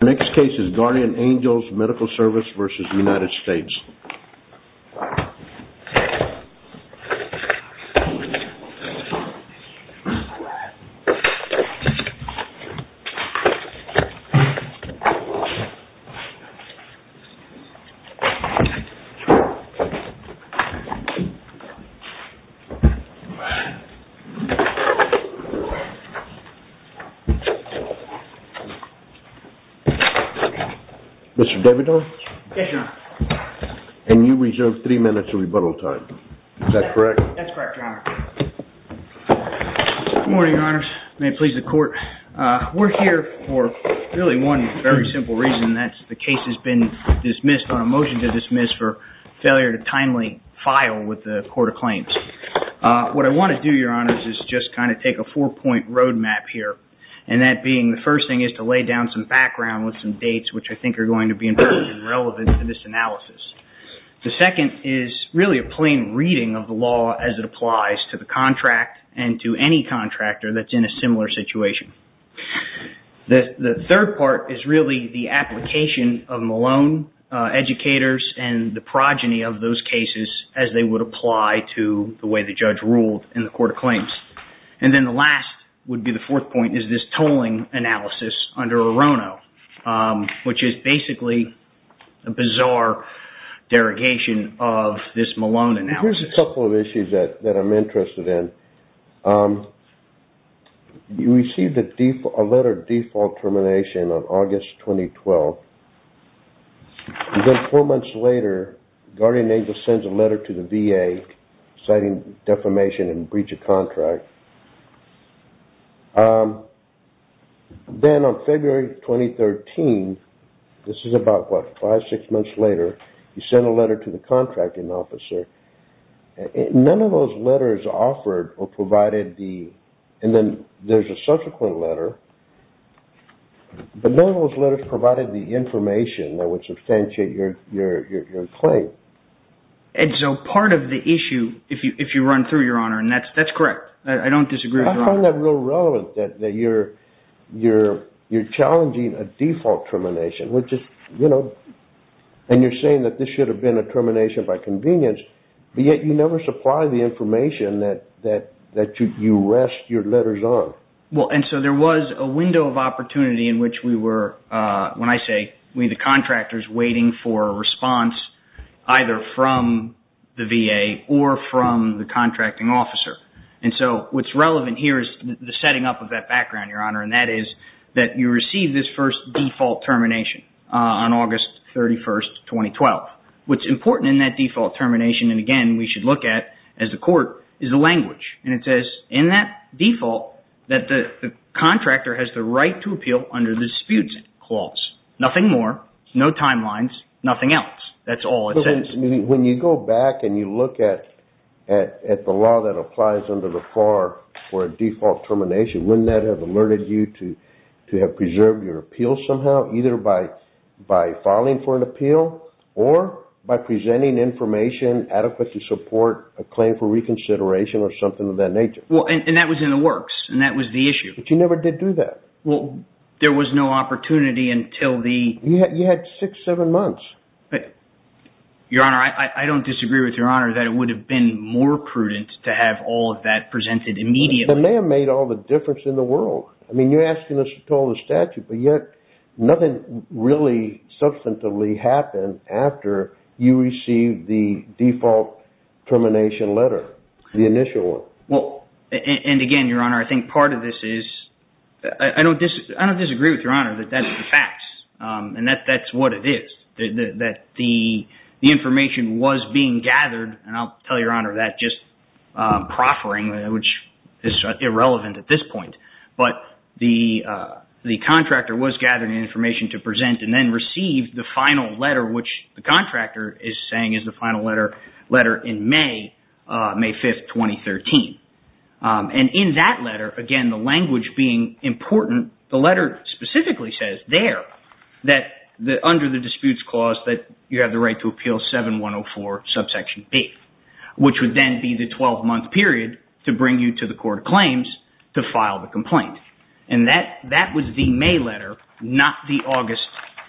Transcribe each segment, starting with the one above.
The next case is Guardian Angels Medical Service v. United States. Mr. Davidson? Yes, Your Honor. And you reserve three minutes of rebuttal time. Is that correct? That's correct, Your Honor. Good morning, Your Honors. May it please the Court. We're here for really one very simple reason, and that's the case has been dismissed on a motion to dismiss for failure to timely file with the Court of Claims. What I want to do, Your Honors, is just kind of take a four-point roadmap here. And that being the first thing is to lay down some background with some dates which I think are going to be important and relevant to this analysis. The second is really a plain reading of the law as it applies to the contract and to any contractor that's in a similar situation. The third part is really the application of Malone educators and the progeny of those cases as they would apply to the way the judge ruled in the Court of Claims. And then the last would be the fourth point is this tolling analysis under Orono, which is basically a bizarre derogation of this Malone analysis. Here's a couple of issues that I'm interested in. You received a letter of default termination on August 2012. Then four months later, Guardian Angels sends a letter to the VA citing defamation and breach of contract. Then on February 2013, this is about five or six months later, you send a letter to the contracting officer. None of those letters offered or provided the... And then there's a subsequent letter, but none of those letters provided the information that would substantiate your claim. Ed, so part of the issue, if you run through, Your Honor, and that's correct. I don't disagree with Your Honor. I find that real relevant that you're challenging a default termination, which is, you know... And you're saying that this should have been a termination by convenience, but yet you never supply the information that you rest your letters on. Well, and so there was a window of opportunity in which we were, when I say we, the contractors waiting for a response either from the VA or from the contracting officer. And so what's relevant here is the setting up of that background, Your Honor, and that is that you receive this first default termination on August 31, 2012. What's important in that default termination, and again, we should look at as a court, is the language. And it says in that default that the contractor has the right to appeal under the disputes clause. Nothing more, no timelines, nothing else. That's all it says. When you go back and you look at the law that applies under the FAR for a default termination, wouldn't that have alerted you to have preserved your appeal somehow, either by filing for an appeal or by presenting information adequate to support a claim for reconsideration or something of that nature? Well, and that was in the works, and that was the issue. But you never did do that. Well, there was no opportunity until the... You had six, seven months. Your Honor, I don't disagree with Your Honor that it would have been more prudent to have all of that presented immediately. It may have made all the difference in the world. I mean, you're asking us to call the statute, but yet nothing really substantively happened after you received the default termination letter, the initial one. And again, Your Honor, I think part of this is... I don't disagree with Your Honor that that's the facts, and that's what it is, that the information was being gathered, and I'll tell Your Honor that just proffering, which is irrelevant at this point. But the contractor was gathering information to present and then received the final letter, which the contractor is saying is the final letter in May 5, 2013. And in that letter, again, the language being important, the letter specifically says there that under the disputes clause that you have the right to appeal 7104, subsection B, which would then be the 12-month period to bring you to the court of claims to file the complaint. And that was the May letter, not the August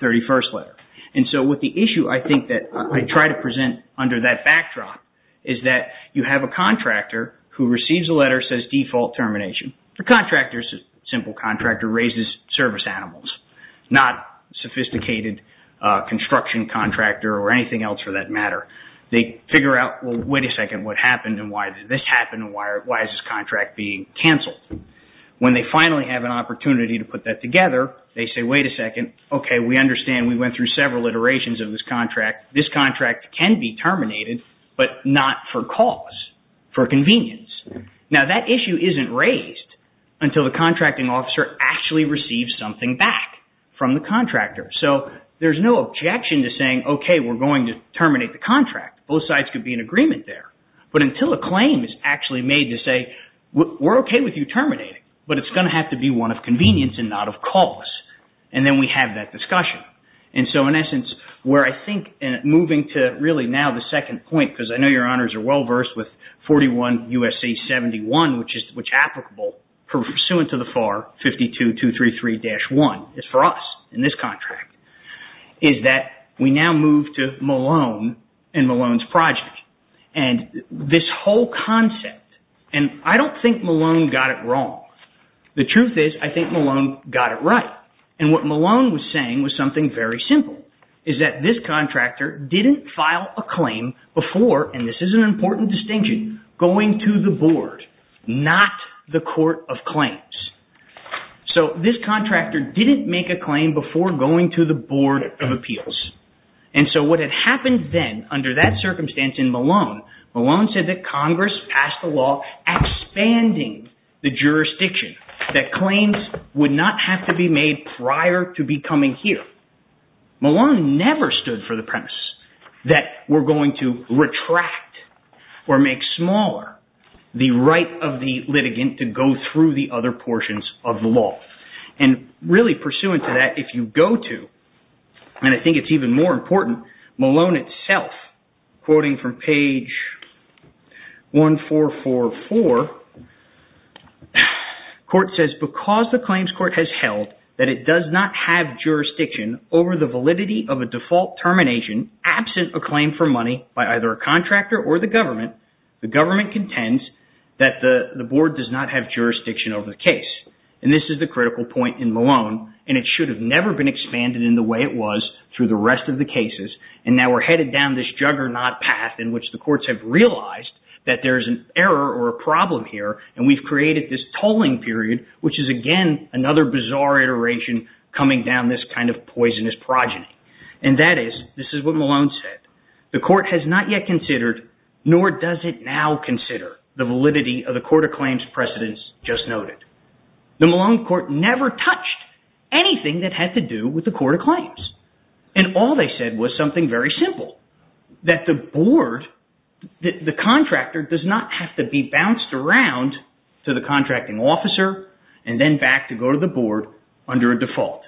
31st letter. And so with the issue I think that I try to present under that backdrop is that you have a contractor who receives a letter that says default termination. The contractor, simple contractor, raises service animals, not sophisticated construction contractor or anything else for that matter. They figure out, well, wait a second, what happened and why did this happen and why is this contract being canceled? When they finally have an opportunity to put that together, they say, wait a second, okay, we understand we went through several iterations of this contract. This contract can be terminated, but not for cause, for convenience. Now, that issue isn't raised until the contracting officer actually receives something back from the contractor. So there's no objection to saying, okay, we're going to terminate the contract. Both sides could be in agreement there. But until a claim is actually made to say, we're okay with you terminating, but it's going to have to be one of convenience and not of cause. And then we have that discussion. And so in essence, where I think moving to really now the second point, because I know your honors are well versed with 41 U.S.C. 71, which is applicable pursuant to the FAR 52-233-1 is for us in this contract, is that we now move to Malone and Malone's project. And this whole concept, and I don't think Malone got it wrong. The truth is, I think Malone got it right. And what Malone was saying was something very simple, is that this contractor didn't file a claim before, and this is an important distinction, going to the board, not the court of claims. So this contractor didn't make a claim before going to the board of appeals. And so what had happened then under that circumstance in Malone, Malone said that Congress passed a law expanding the jurisdiction, that claims would not have to be made prior to becoming here. Malone never stood for the premise that we're going to retract or make smaller the right of the litigant to go through the other portions of the law. And really pursuant to that, if you go to, and I think it's even more important, Malone itself, quoting from page 1444, court says, because the claims court has held that it does not have jurisdiction over the validity of a default termination, absent a claim for money by either a contractor or the government, the government contends that the board does not have jurisdiction over the case. And this is the critical point in Malone, and it should have never been expanded in the way it was through the rest of the cases. And now we're headed down this juggernaut path in which the courts have realized that there's an error or a problem here, and we've created this tolling period, which is again another bizarre iteration coming down this kind of poisonous progeny. And that is, this is what Malone said, the court has not yet considered, nor does it now consider, the validity of the court of claims precedence just noted. The Malone court never touched anything that had to do with the court of claims. And all they said was something very simple, that the board, the contractor does not have to be bounced around to the contracting officer and then back to go to the board under a default.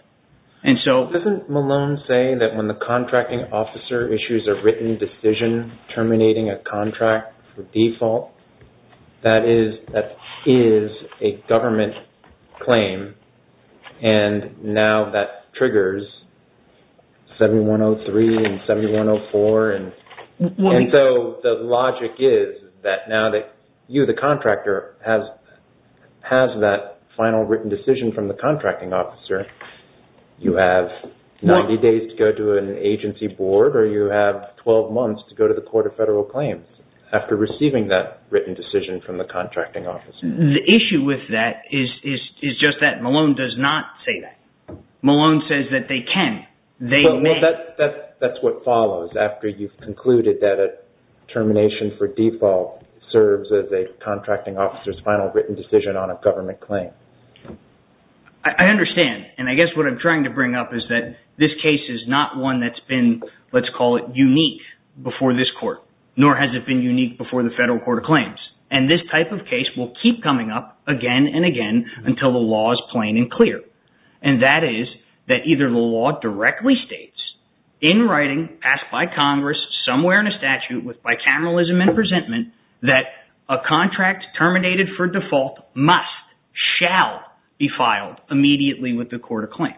Doesn't Malone say that when the contracting officer issues a written decision terminating a contract for default, that is a government claim, and now that triggers 7103 and 7104? And so the logic is that now that you, the contractor, has that final written decision from the contracting officer, you have 90 days to go to an agency board, or you have 12 months to go to the court of federal claims after receiving that written decision from the contracting officer. The issue with that is just that Malone does not say that. Malone says that they can. Well, that's what follows after you've concluded that a termination for default serves as a contracting officer's final written decision on a government claim. I understand, and I guess what I'm trying to bring up is that this case is not one that's been, let's call it unique, before this court, nor has it been unique before the federal court of claims. And this type of case will keep coming up again and again until the law is plain and clear. And that is that either the law directly states, in writing, passed by Congress, somewhere in a statute with bicameralism and presentment, that a contract terminated for default must, shall be filed immediately with the court of claims.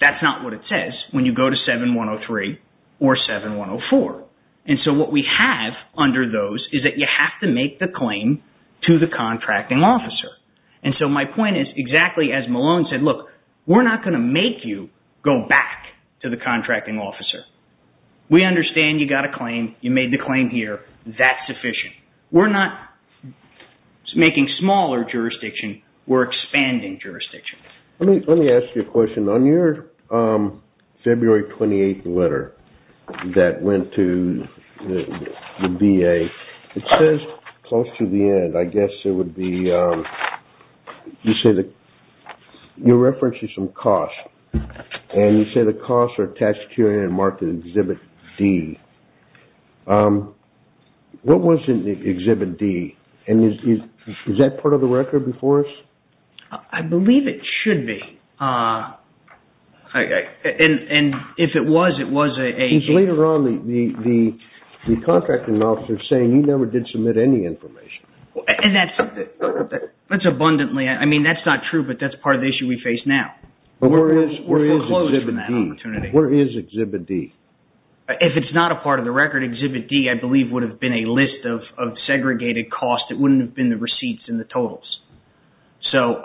That's not what it says when you go to 7103 or 7104. And so what we have under those is that you have to make the claim to the contracting officer. And so my point is, exactly as Malone said, look, we're not going to make you go back to the contracting officer. We understand you got a claim, you made the claim here, that's sufficient. We're not making smaller jurisdiction, we're expanding jurisdiction. Let me ask you a question. On your February 28th letter that went to the VA, it says, close to the end, I guess it would be, you say that you're referencing some costs. And you say the costs are tax security and market Exhibit D. What was in Exhibit D? And is that part of the record before us? I believe it should be. And if it was, it was a... Because later on the contracting officer is saying he never did submit any information. And that's abundantly, I mean, that's not true, but that's part of the issue we face now. Where is Exhibit D? Where is Exhibit D? If it's not a part of the record, Exhibit D, I believe, would have been a list of segregated costs. It wouldn't have been the receipts and the totals. So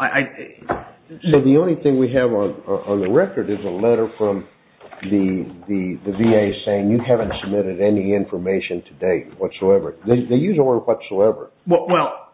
the only thing we have on the record is a letter from the VA saying you haven't submitted any information to date whatsoever. They use the word whatsoever. Well,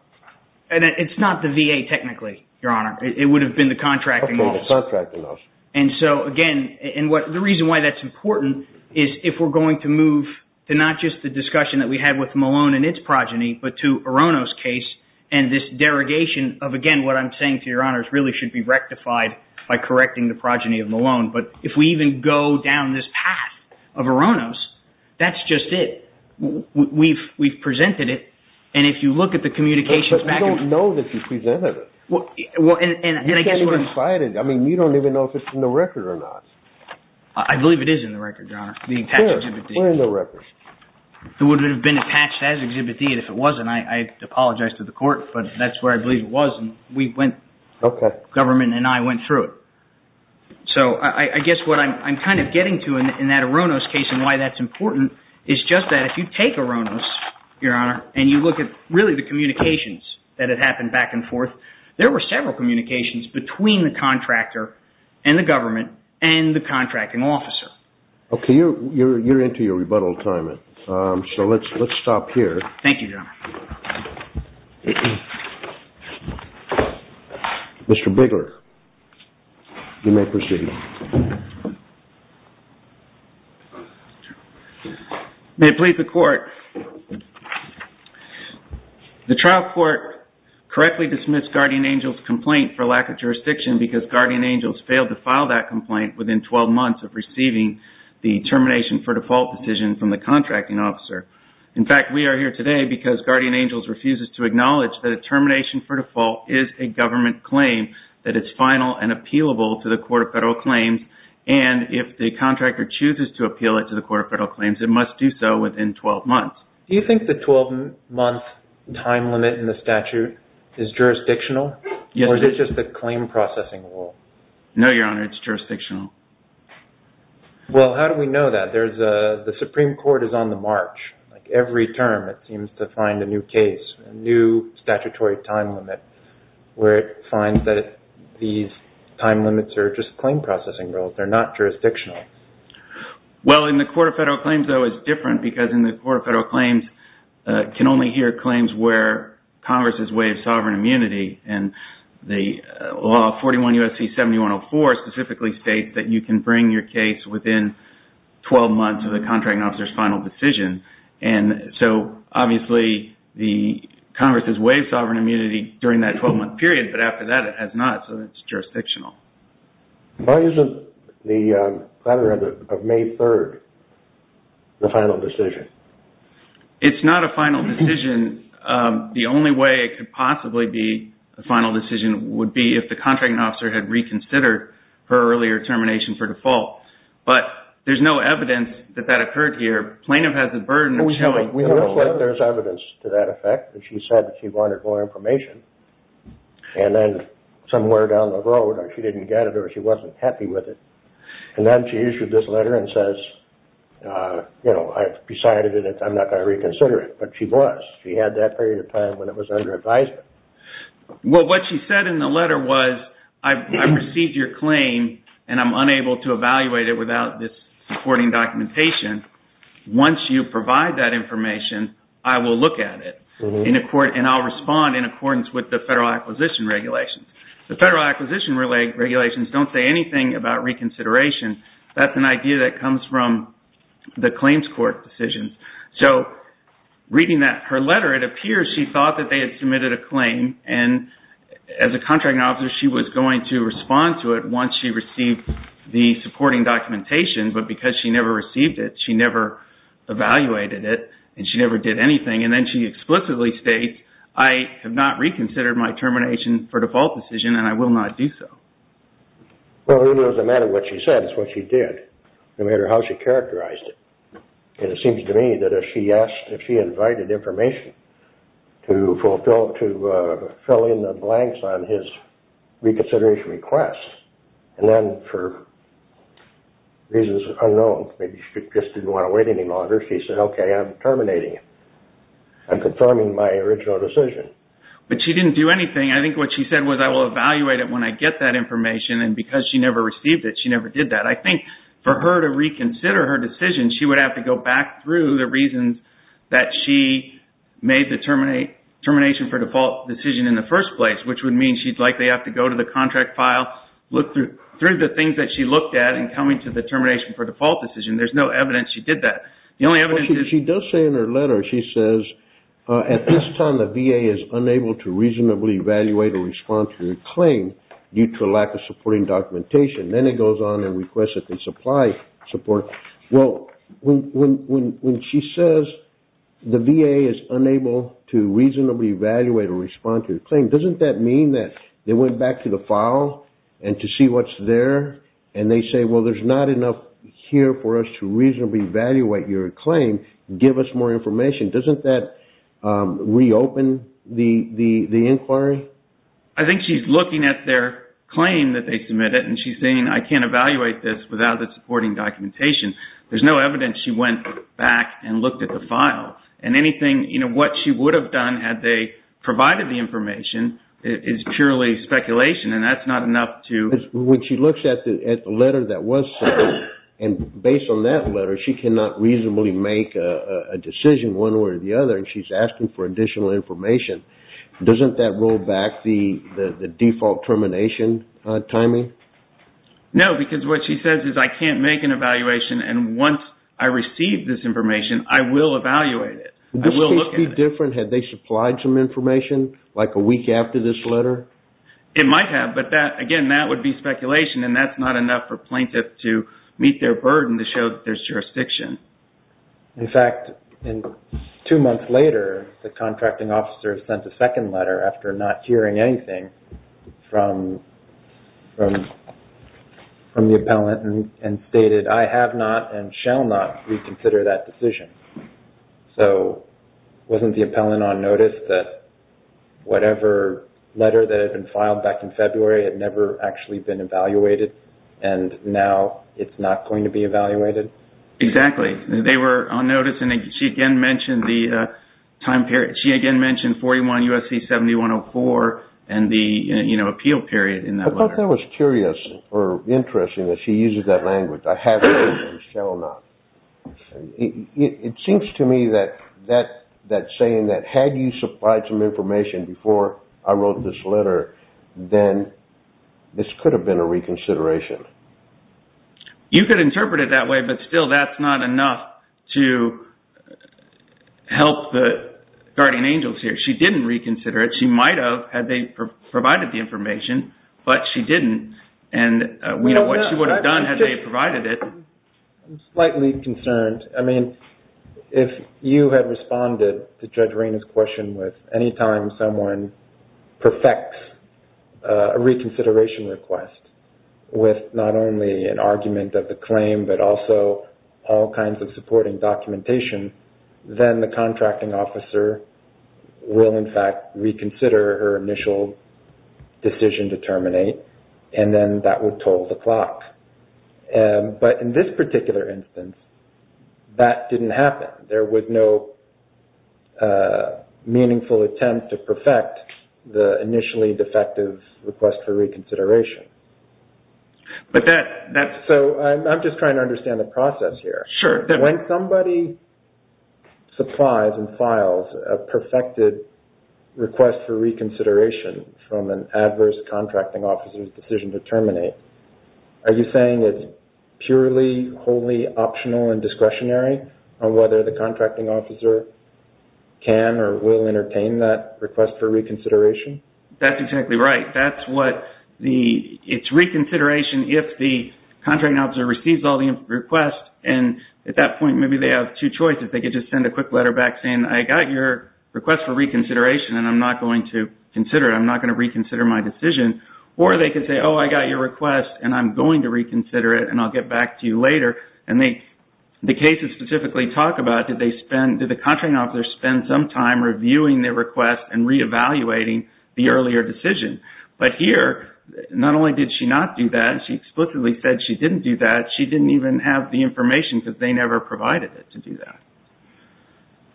it's not the VA technically, Your Honor. It would have been the contracting officer. And so, again, the reason why that's important is if we're going to move to not just the discussion that we had with Malone and its progeny, but to Orono's case and this derogation of, again, what I'm saying to Your Honor really should be rectified by correcting the progeny of Malone. But if we even go down this path of Orono's, that's just it. We've presented it, and if you look at the communications back... But we don't know that you presented it. You can't even cite it. I mean, you don't even know if it's in the record or not. I believe it is in the record, Your Honor, the patched Exhibit D. Sure, we're in the record. It would have been patched as Exhibit D if it wasn't. I apologize to the court, but that's where I believe it was, and we went... Okay. Government and I went through it. So I guess what I'm kind of getting to in that Orono's case and why that's important is just that if you take Orono's, Your Honor, and you look at really the communications that had happened back and forth, there were several communications between the contractor and the government and the contracting officer. Okay, you're into your rebuttal time, so let's stop here. Thank you, Your Honor. Mr. Bigler, you may proceed. May it please the court. The trial court correctly dismissed Guardian Angels' complaint for lack of jurisdiction because Guardian Angels failed to file that complaint within 12 months of receiving the termination for default decision from the contracting officer. In fact, we are here today because Guardian Angels refuses to acknowledge that a termination for default is a government claim, that it's final and appealable to the Court of Federal Claims, and if the contractor chooses to appeal it to the Court of Federal Claims, it must do so within 12 months. Do you think the 12-month time limit in the statute is jurisdictional? Yes. Or is it just the claim processing rule? No, Your Honor, it's jurisdictional. Well, how do we know that? The Supreme Court is on the march. Every term, it seems to find a new case, a new statutory time limit, where it finds that these time limits are just claim processing rules. They're not jurisdictional. Well, in the Court of Federal Claims, though, it's different because in the Court of Federal Claims, can only hear claims where Congress has waived sovereign immunity, and the law 41 U.S.C. 7104 specifically states that you can bring your case within 12 months of the contracting officer's final decision, and so, obviously, Congress has waived sovereign immunity during that 12-month period, but after that, it has not, so it's jurisdictional. Why isn't the platter of May 3rd the final decision? It's not a final decision. The only way it could possibly be a final decision would be if the contracting officer had reconsidered her earlier termination for default, but there's no evidence that that occurred here. Plaintiff has the burden of showing evidence. There's evidence to that effect. She said that she wanted more information, and then somewhere down the road, or she didn't get it, or she wasn't happy with it, and then she issued this letter and says, you know, I've decided that I'm not going to reconsider it, but she was. She had that period of time when it was under advisement. Well, what she said in the letter was, I've received your claim, and I'm unable to evaluate it without this supporting documentation. Once you provide that information, I will look at it, and I'll respond in accordance with the Federal Acquisition Regulations. The Federal Acquisition Regulations don't say anything about reconsideration. That's an idea that comes from the claims court decisions. So, reading her letter, it appears she thought that they had submitted a claim, and as a contracting officer, she was going to respond to it once she received the supporting documentation, but because she never received it, she never evaluated it, and she never did anything, and then she explicitly states, I have not reconsidered my termination for default decision, and I will not do so. Well, it doesn't matter what she said. It's what she did, no matter how she characterized it, and it seems to me that if she asked, if she invited information to fill in the blanks on his reconsideration request, and then for reasons unknown, maybe she just didn't want to wait any longer, she said, okay, I'm terminating it. I'm confirming my original decision. But she didn't do anything. I think what she said was, I will evaluate it when I get that information, and because she never received it, she never did that. I think for her to reconsider her decision, she would have to go back through the reasons that she made the termination for default decision in the first place, which would mean she'd likely have to go to the contract file, look through the things that she looked at in coming to the termination for default decision. There's no evidence she did that. The only evidence is... She does say in her letter, she says, at this time the VA is unable to reasonably evaluate or respond to your claim due to a lack of supporting documentation. Then it goes on and requests that they supply support. Well, when she says the VA is unable to reasonably evaluate or respond to your claim, doesn't that mean that they went back to the file and to see what's there, and they say, well, there's not enough here for us to reasonably evaluate your claim. Give us more information. Doesn't that reopen the inquiry? I think she's looking at their claim that they submitted, and she's saying, I can't evaluate this without the supporting documentation. There's no evidence she went back and looked at the file. What she would have done had they provided the information is purely speculation, and that's not enough to... When she looks at the letter that was sent, and based on that letter, she cannot reasonably make a decision one way or the other. She's asking for additional information. Doesn't that roll back the default termination timing? No, because what she says is, I can't make an evaluation, and once I receive this information, I will evaluate it. Would this be different had they supplied some information, like a week after this letter? It might have, but, again, that would be speculation, and that's not enough for plaintiff to meet their burden to show that there's jurisdiction. In fact, two months later, the contracting officer sent a second letter, after not hearing anything from the appellant, and stated, I have not and shall not reconsider that decision. So, wasn't the appellant on notice that whatever letter that had been filed back in February had never actually been evaluated, and now it's not going to be evaluated? Exactly. They were on notice, and she again mentioned the time period. She again mentioned 41 U.S.C. 7104 and the appeal period in that letter. I thought that was curious or interesting that she uses that language, I have not and shall not. It seems to me that saying that, had you supplied some information before I wrote this letter, then this could have been a reconsideration. You could interpret it that way, but still, that's not enough to help the guardian angels here. She didn't reconsider it. She might have, had they provided the information, but she didn't, and we don't know what she would have done had they provided it. I'm slightly concerned. I mean, if you had responded to Judge Reina's question with, anytime someone perfects a reconsideration request with not only an argument of the claim, but also all kinds of supporting documentation, then the contracting officer will, in fact, reconsider her initial decision to terminate, and then that would toll the clock. But in this particular instance, that didn't happen. There was no meaningful attempt to perfect the initially defective request for reconsideration. I'm just trying to understand the process here. Sure. When somebody supplies and files a perfected request for reconsideration from an adverse contracting officer's decision to terminate, are you saying it's purely wholly optional and discretionary on whether the contracting officer can or will entertain that request for reconsideration? That's exactly right. That's what the, it's reconsideration if the contracting officer receives all the requests, and at that point, maybe they have two choices. They could just send a quick letter back saying, I got your request for reconsideration, and I'm not going to consider it. I'm not going to reconsider my decision. Or they could say, oh, I got your request, and I'm going to reconsider it, and I'll get back to you later. And the cases specifically talk about, did the contracting officer spend some time reviewing their request and reevaluating the earlier decision? But here, not only did she not do that, she explicitly said she didn't do that. She didn't even have the information because they never provided it to do that.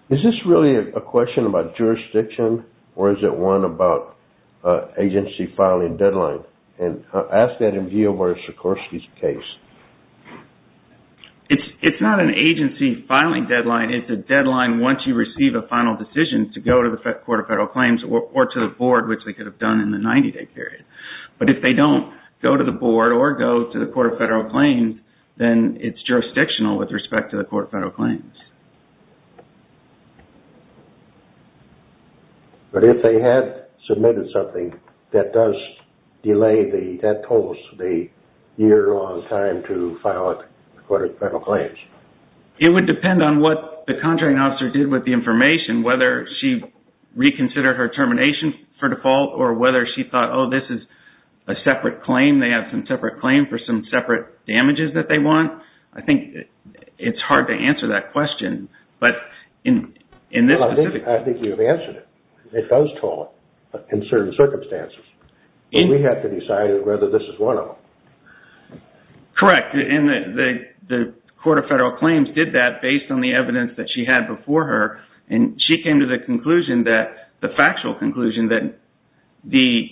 Is this really a question about jurisdiction, or is it one about agency filing deadline? And ask that in view of where Sikorsky's case. It's not an agency filing deadline. It's a deadline once you receive a final decision to go to the Court of Federal Claims or to the board, which they could have done in the 90-day period. But if they don't go to the board or go to the Court of Federal Claims, then it's jurisdictional with respect to the Court of Federal Claims. It would depend on what the contracting officer did with the information, whether she reconsidered her termination for default, or whether she thought, oh, this is a separate claim. They have some separate claims for some separate damages that they want. I think it's hard to answer that question. But in this specific case... I think you've answered it. It does tall in certain circumstances. We have to decide whether this is one of them. Correct. And the Court of Federal Claims did that based on the evidence that she had before her. She came to the factual conclusion that the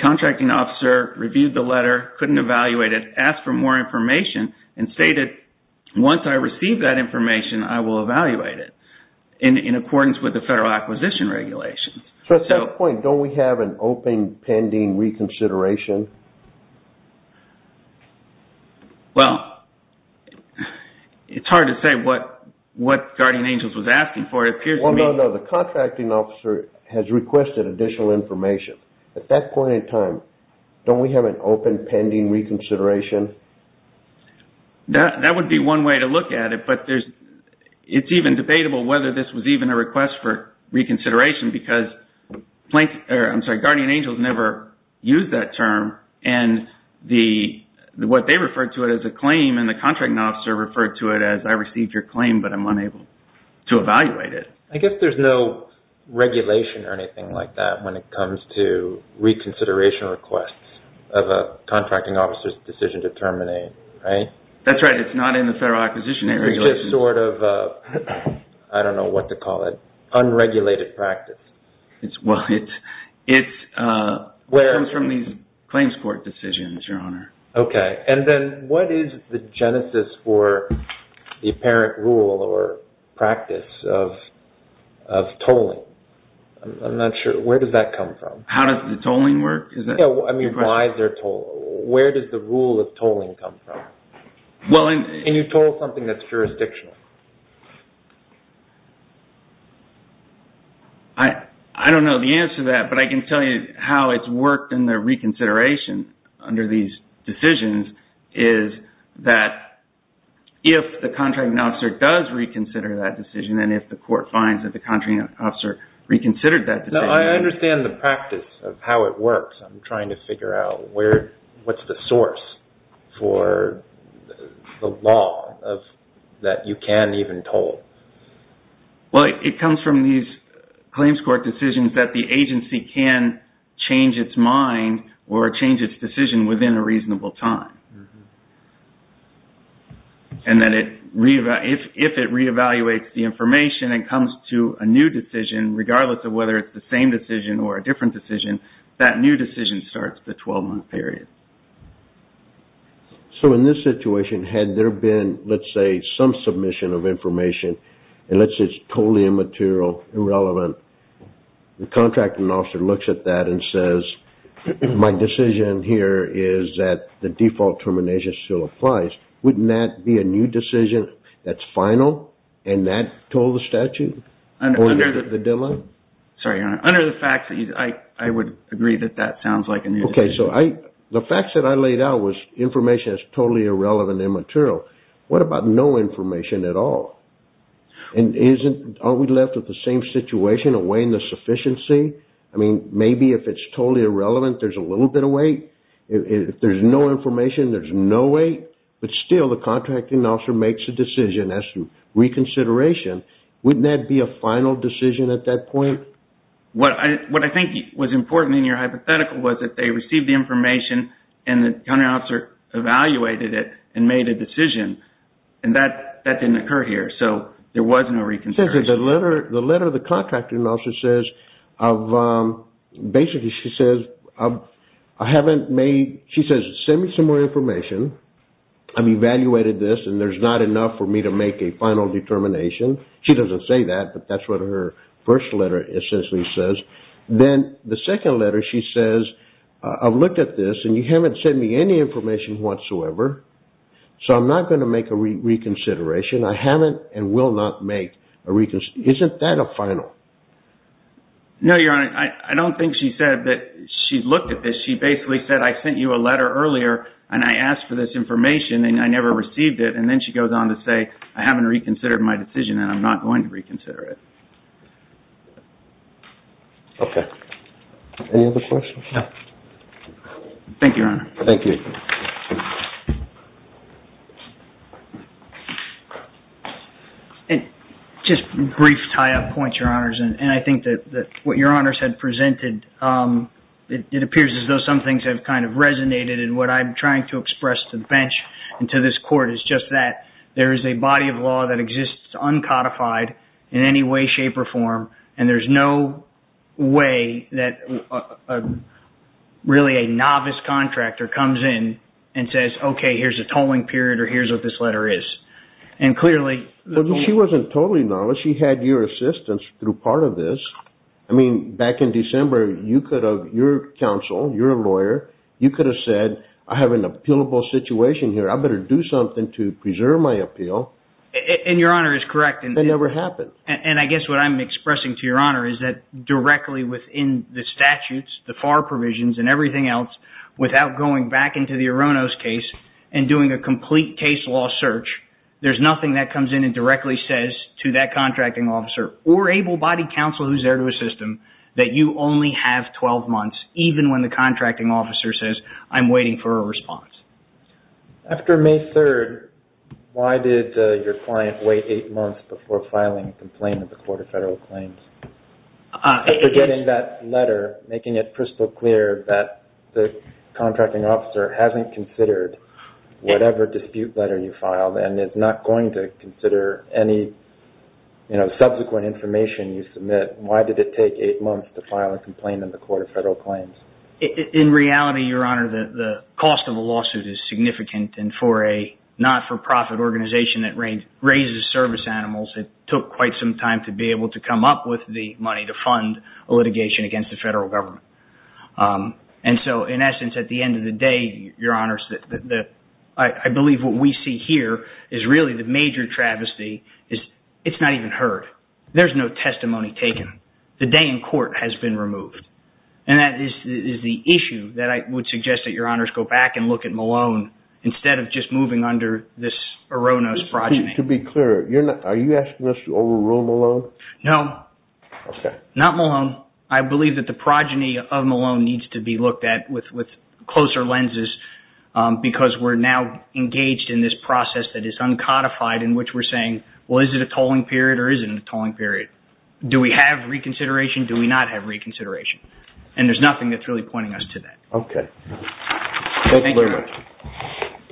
contracting officer reviewed the letter, couldn't evaluate it, asked for more information, and stated, once I receive that information, I will evaluate it in accordance with the Federal Acquisition Regulations. So at that point, don't we have an open, pending reconsideration? Well, it's hard to say what Guardian Angels was asking for. It appears to me... Well, no, no. The contracting officer has requested additional information. At that point in time, don't we have an open, pending reconsideration? That would be one way to look at it. But it's even debatable whether this was even a request for reconsideration because Guardian Angels never used that term, and what they referred to it as a claim, and the contracting officer referred to it as, I received your claim, but I'm unable to evaluate it. I guess there's no regulation or anything like that when it comes to reconsideration requests of a contracting officer's decision to terminate, right? That's right. It's not in the Federal Acquisition Regulations. It's just sort of, I don't know what to call it, unregulated practice. Well, it comes from these claims court decisions, Your Honor. Okay. And then what is the genesis for the apparent rule or practice of tolling? I'm not sure. Where does that come from? How does the tolling work? I mean, why is there tolling? Where does the rule of tolling come from? Can you toll something that's jurisdictional? I don't know the answer to that, but I can tell you how it's worked in the reconsideration under these decisions, is that if the contracting officer does reconsider that decision, and if the court finds that the contracting officer reconsidered that decision... No, I understand the practice of how it works. I'm trying to figure out what's the source for the law that you can even toll. Well, it comes from these claims court decisions that the agency can change its mind or change its decision within a reasonable time. And then if it reevaluates the information and comes to a new decision, regardless of whether it's the same decision or a different decision, that new decision starts the 12-month period. So in this situation, had there been, let's say, some submission of information, and let's say it's totally immaterial, irrelevant, the contracting officer looks at that and says, my decision here is that the default termination still applies. Wouldn't that be a new decision that's final and not toll the statute or the deadline? Sorry, your Honor. Under the facts, I would agree that that sounds like a new decision. Okay, so the facts that I laid out was information that's totally irrelevant and immaterial. What about no information at all? And aren't we left with the same situation of weighing the sufficiency? I mean, maybe if it's totally irrelevant, there's a little bit of weight. If there's no information, there's no weight. But still, the contracting officer makes a decision as to reconsideration. Wouldn't that be a final decision at that point? What I think was important in your hypothetical was that they received the information and the contracting officer evaluated it and made a decision. And that didn't occur here. So there was no reconsideration. The letter the contracting officer says, basically she says, send me some more information. I've evaluated this and there's not enough for me to make a final determination. She doesn't say that, but that's what her first letter essentially says. Then the second letter she says, I've looked at this and you haven't sent me any information whatsoever. So I'm not going to make a reconsideration. I haven't and will not make a reconsideration. Isn't that a final? No, your Honor. I don't think she said that she looked at this. She basically said, I sent you a letter earlier and I asked for this information and I never received it. And then she goes on to say, I haven't reconsidered my decision and I'm not going to reconsider it. Okay. Any other questions? No. Thank you, Your Honor. Thank you. Just a brief tie-up point, Your Honors. And I think that what Your Honors had presented, it appears as though some things have kind of resonated. And what I'm trying to express to the bench and to this Court is just that there is a body of law that exists uncodified in any way, shape, or form. And there's no way that really a novice contractor comes in and says, okay, here's a tolling period or here's what this letter is. She wasn't totally novice. She had your assistance through part of this. I mean, back in December, your counsel, your lawyer, you could have said, I have an appealable situation here. I better do something to preserve my appeal. And Your Honor is correct. It never happened. And I guess what I'm expressing to Your Honor is that directly within the statutes, the FAR provisions, and everything else, without going back into the Aronos case and doing a complete case law search, there's nothing that comes in and directly says to that contracting officer or able-bodied counsel who's there to assist them that you only have 12 months, even when the contracting officer says, I'm waiting for a response. After May 3rd, why did your client wait eight months before filing a complaint with the Court of Federal Claims? After getting that letter, making it crystal clear that the contracting officer hasn't considered whatever dispute letter you filed and is not going to consider any subsequent information you submit, why did it take eight months to file a complaint in the Court of Federal Claims? In reality, Your Honor, the cost of a lawsuit is significant. And for a not-for-profit organization that raises service animals, it took quite some time to be able to come up with the money to fund a litigation against the federal government. And so, in essence, at the end of the day, Your Honors, I believe what we see here is really the major travesty is it's not even heard. There's no testimony taken. The day in court has been removed. And that is the issue that I would suggest that Your Honors go back and look at Malone instead of just moving under this Aronos progeny. To be clear, are you asking us to overrule Malone? No. Okay. Not Malone. I believe that the progeny of Malone needs to be looked at with closer lenses because we're now engaged in this process that is uncodified in which we're saying, well, is it a tolling period or isn't it a tolling period? Do we have reconsideration? Do we not have reconsideration? And there's nothing that's really pointing us to that. Okay. Thank you very much.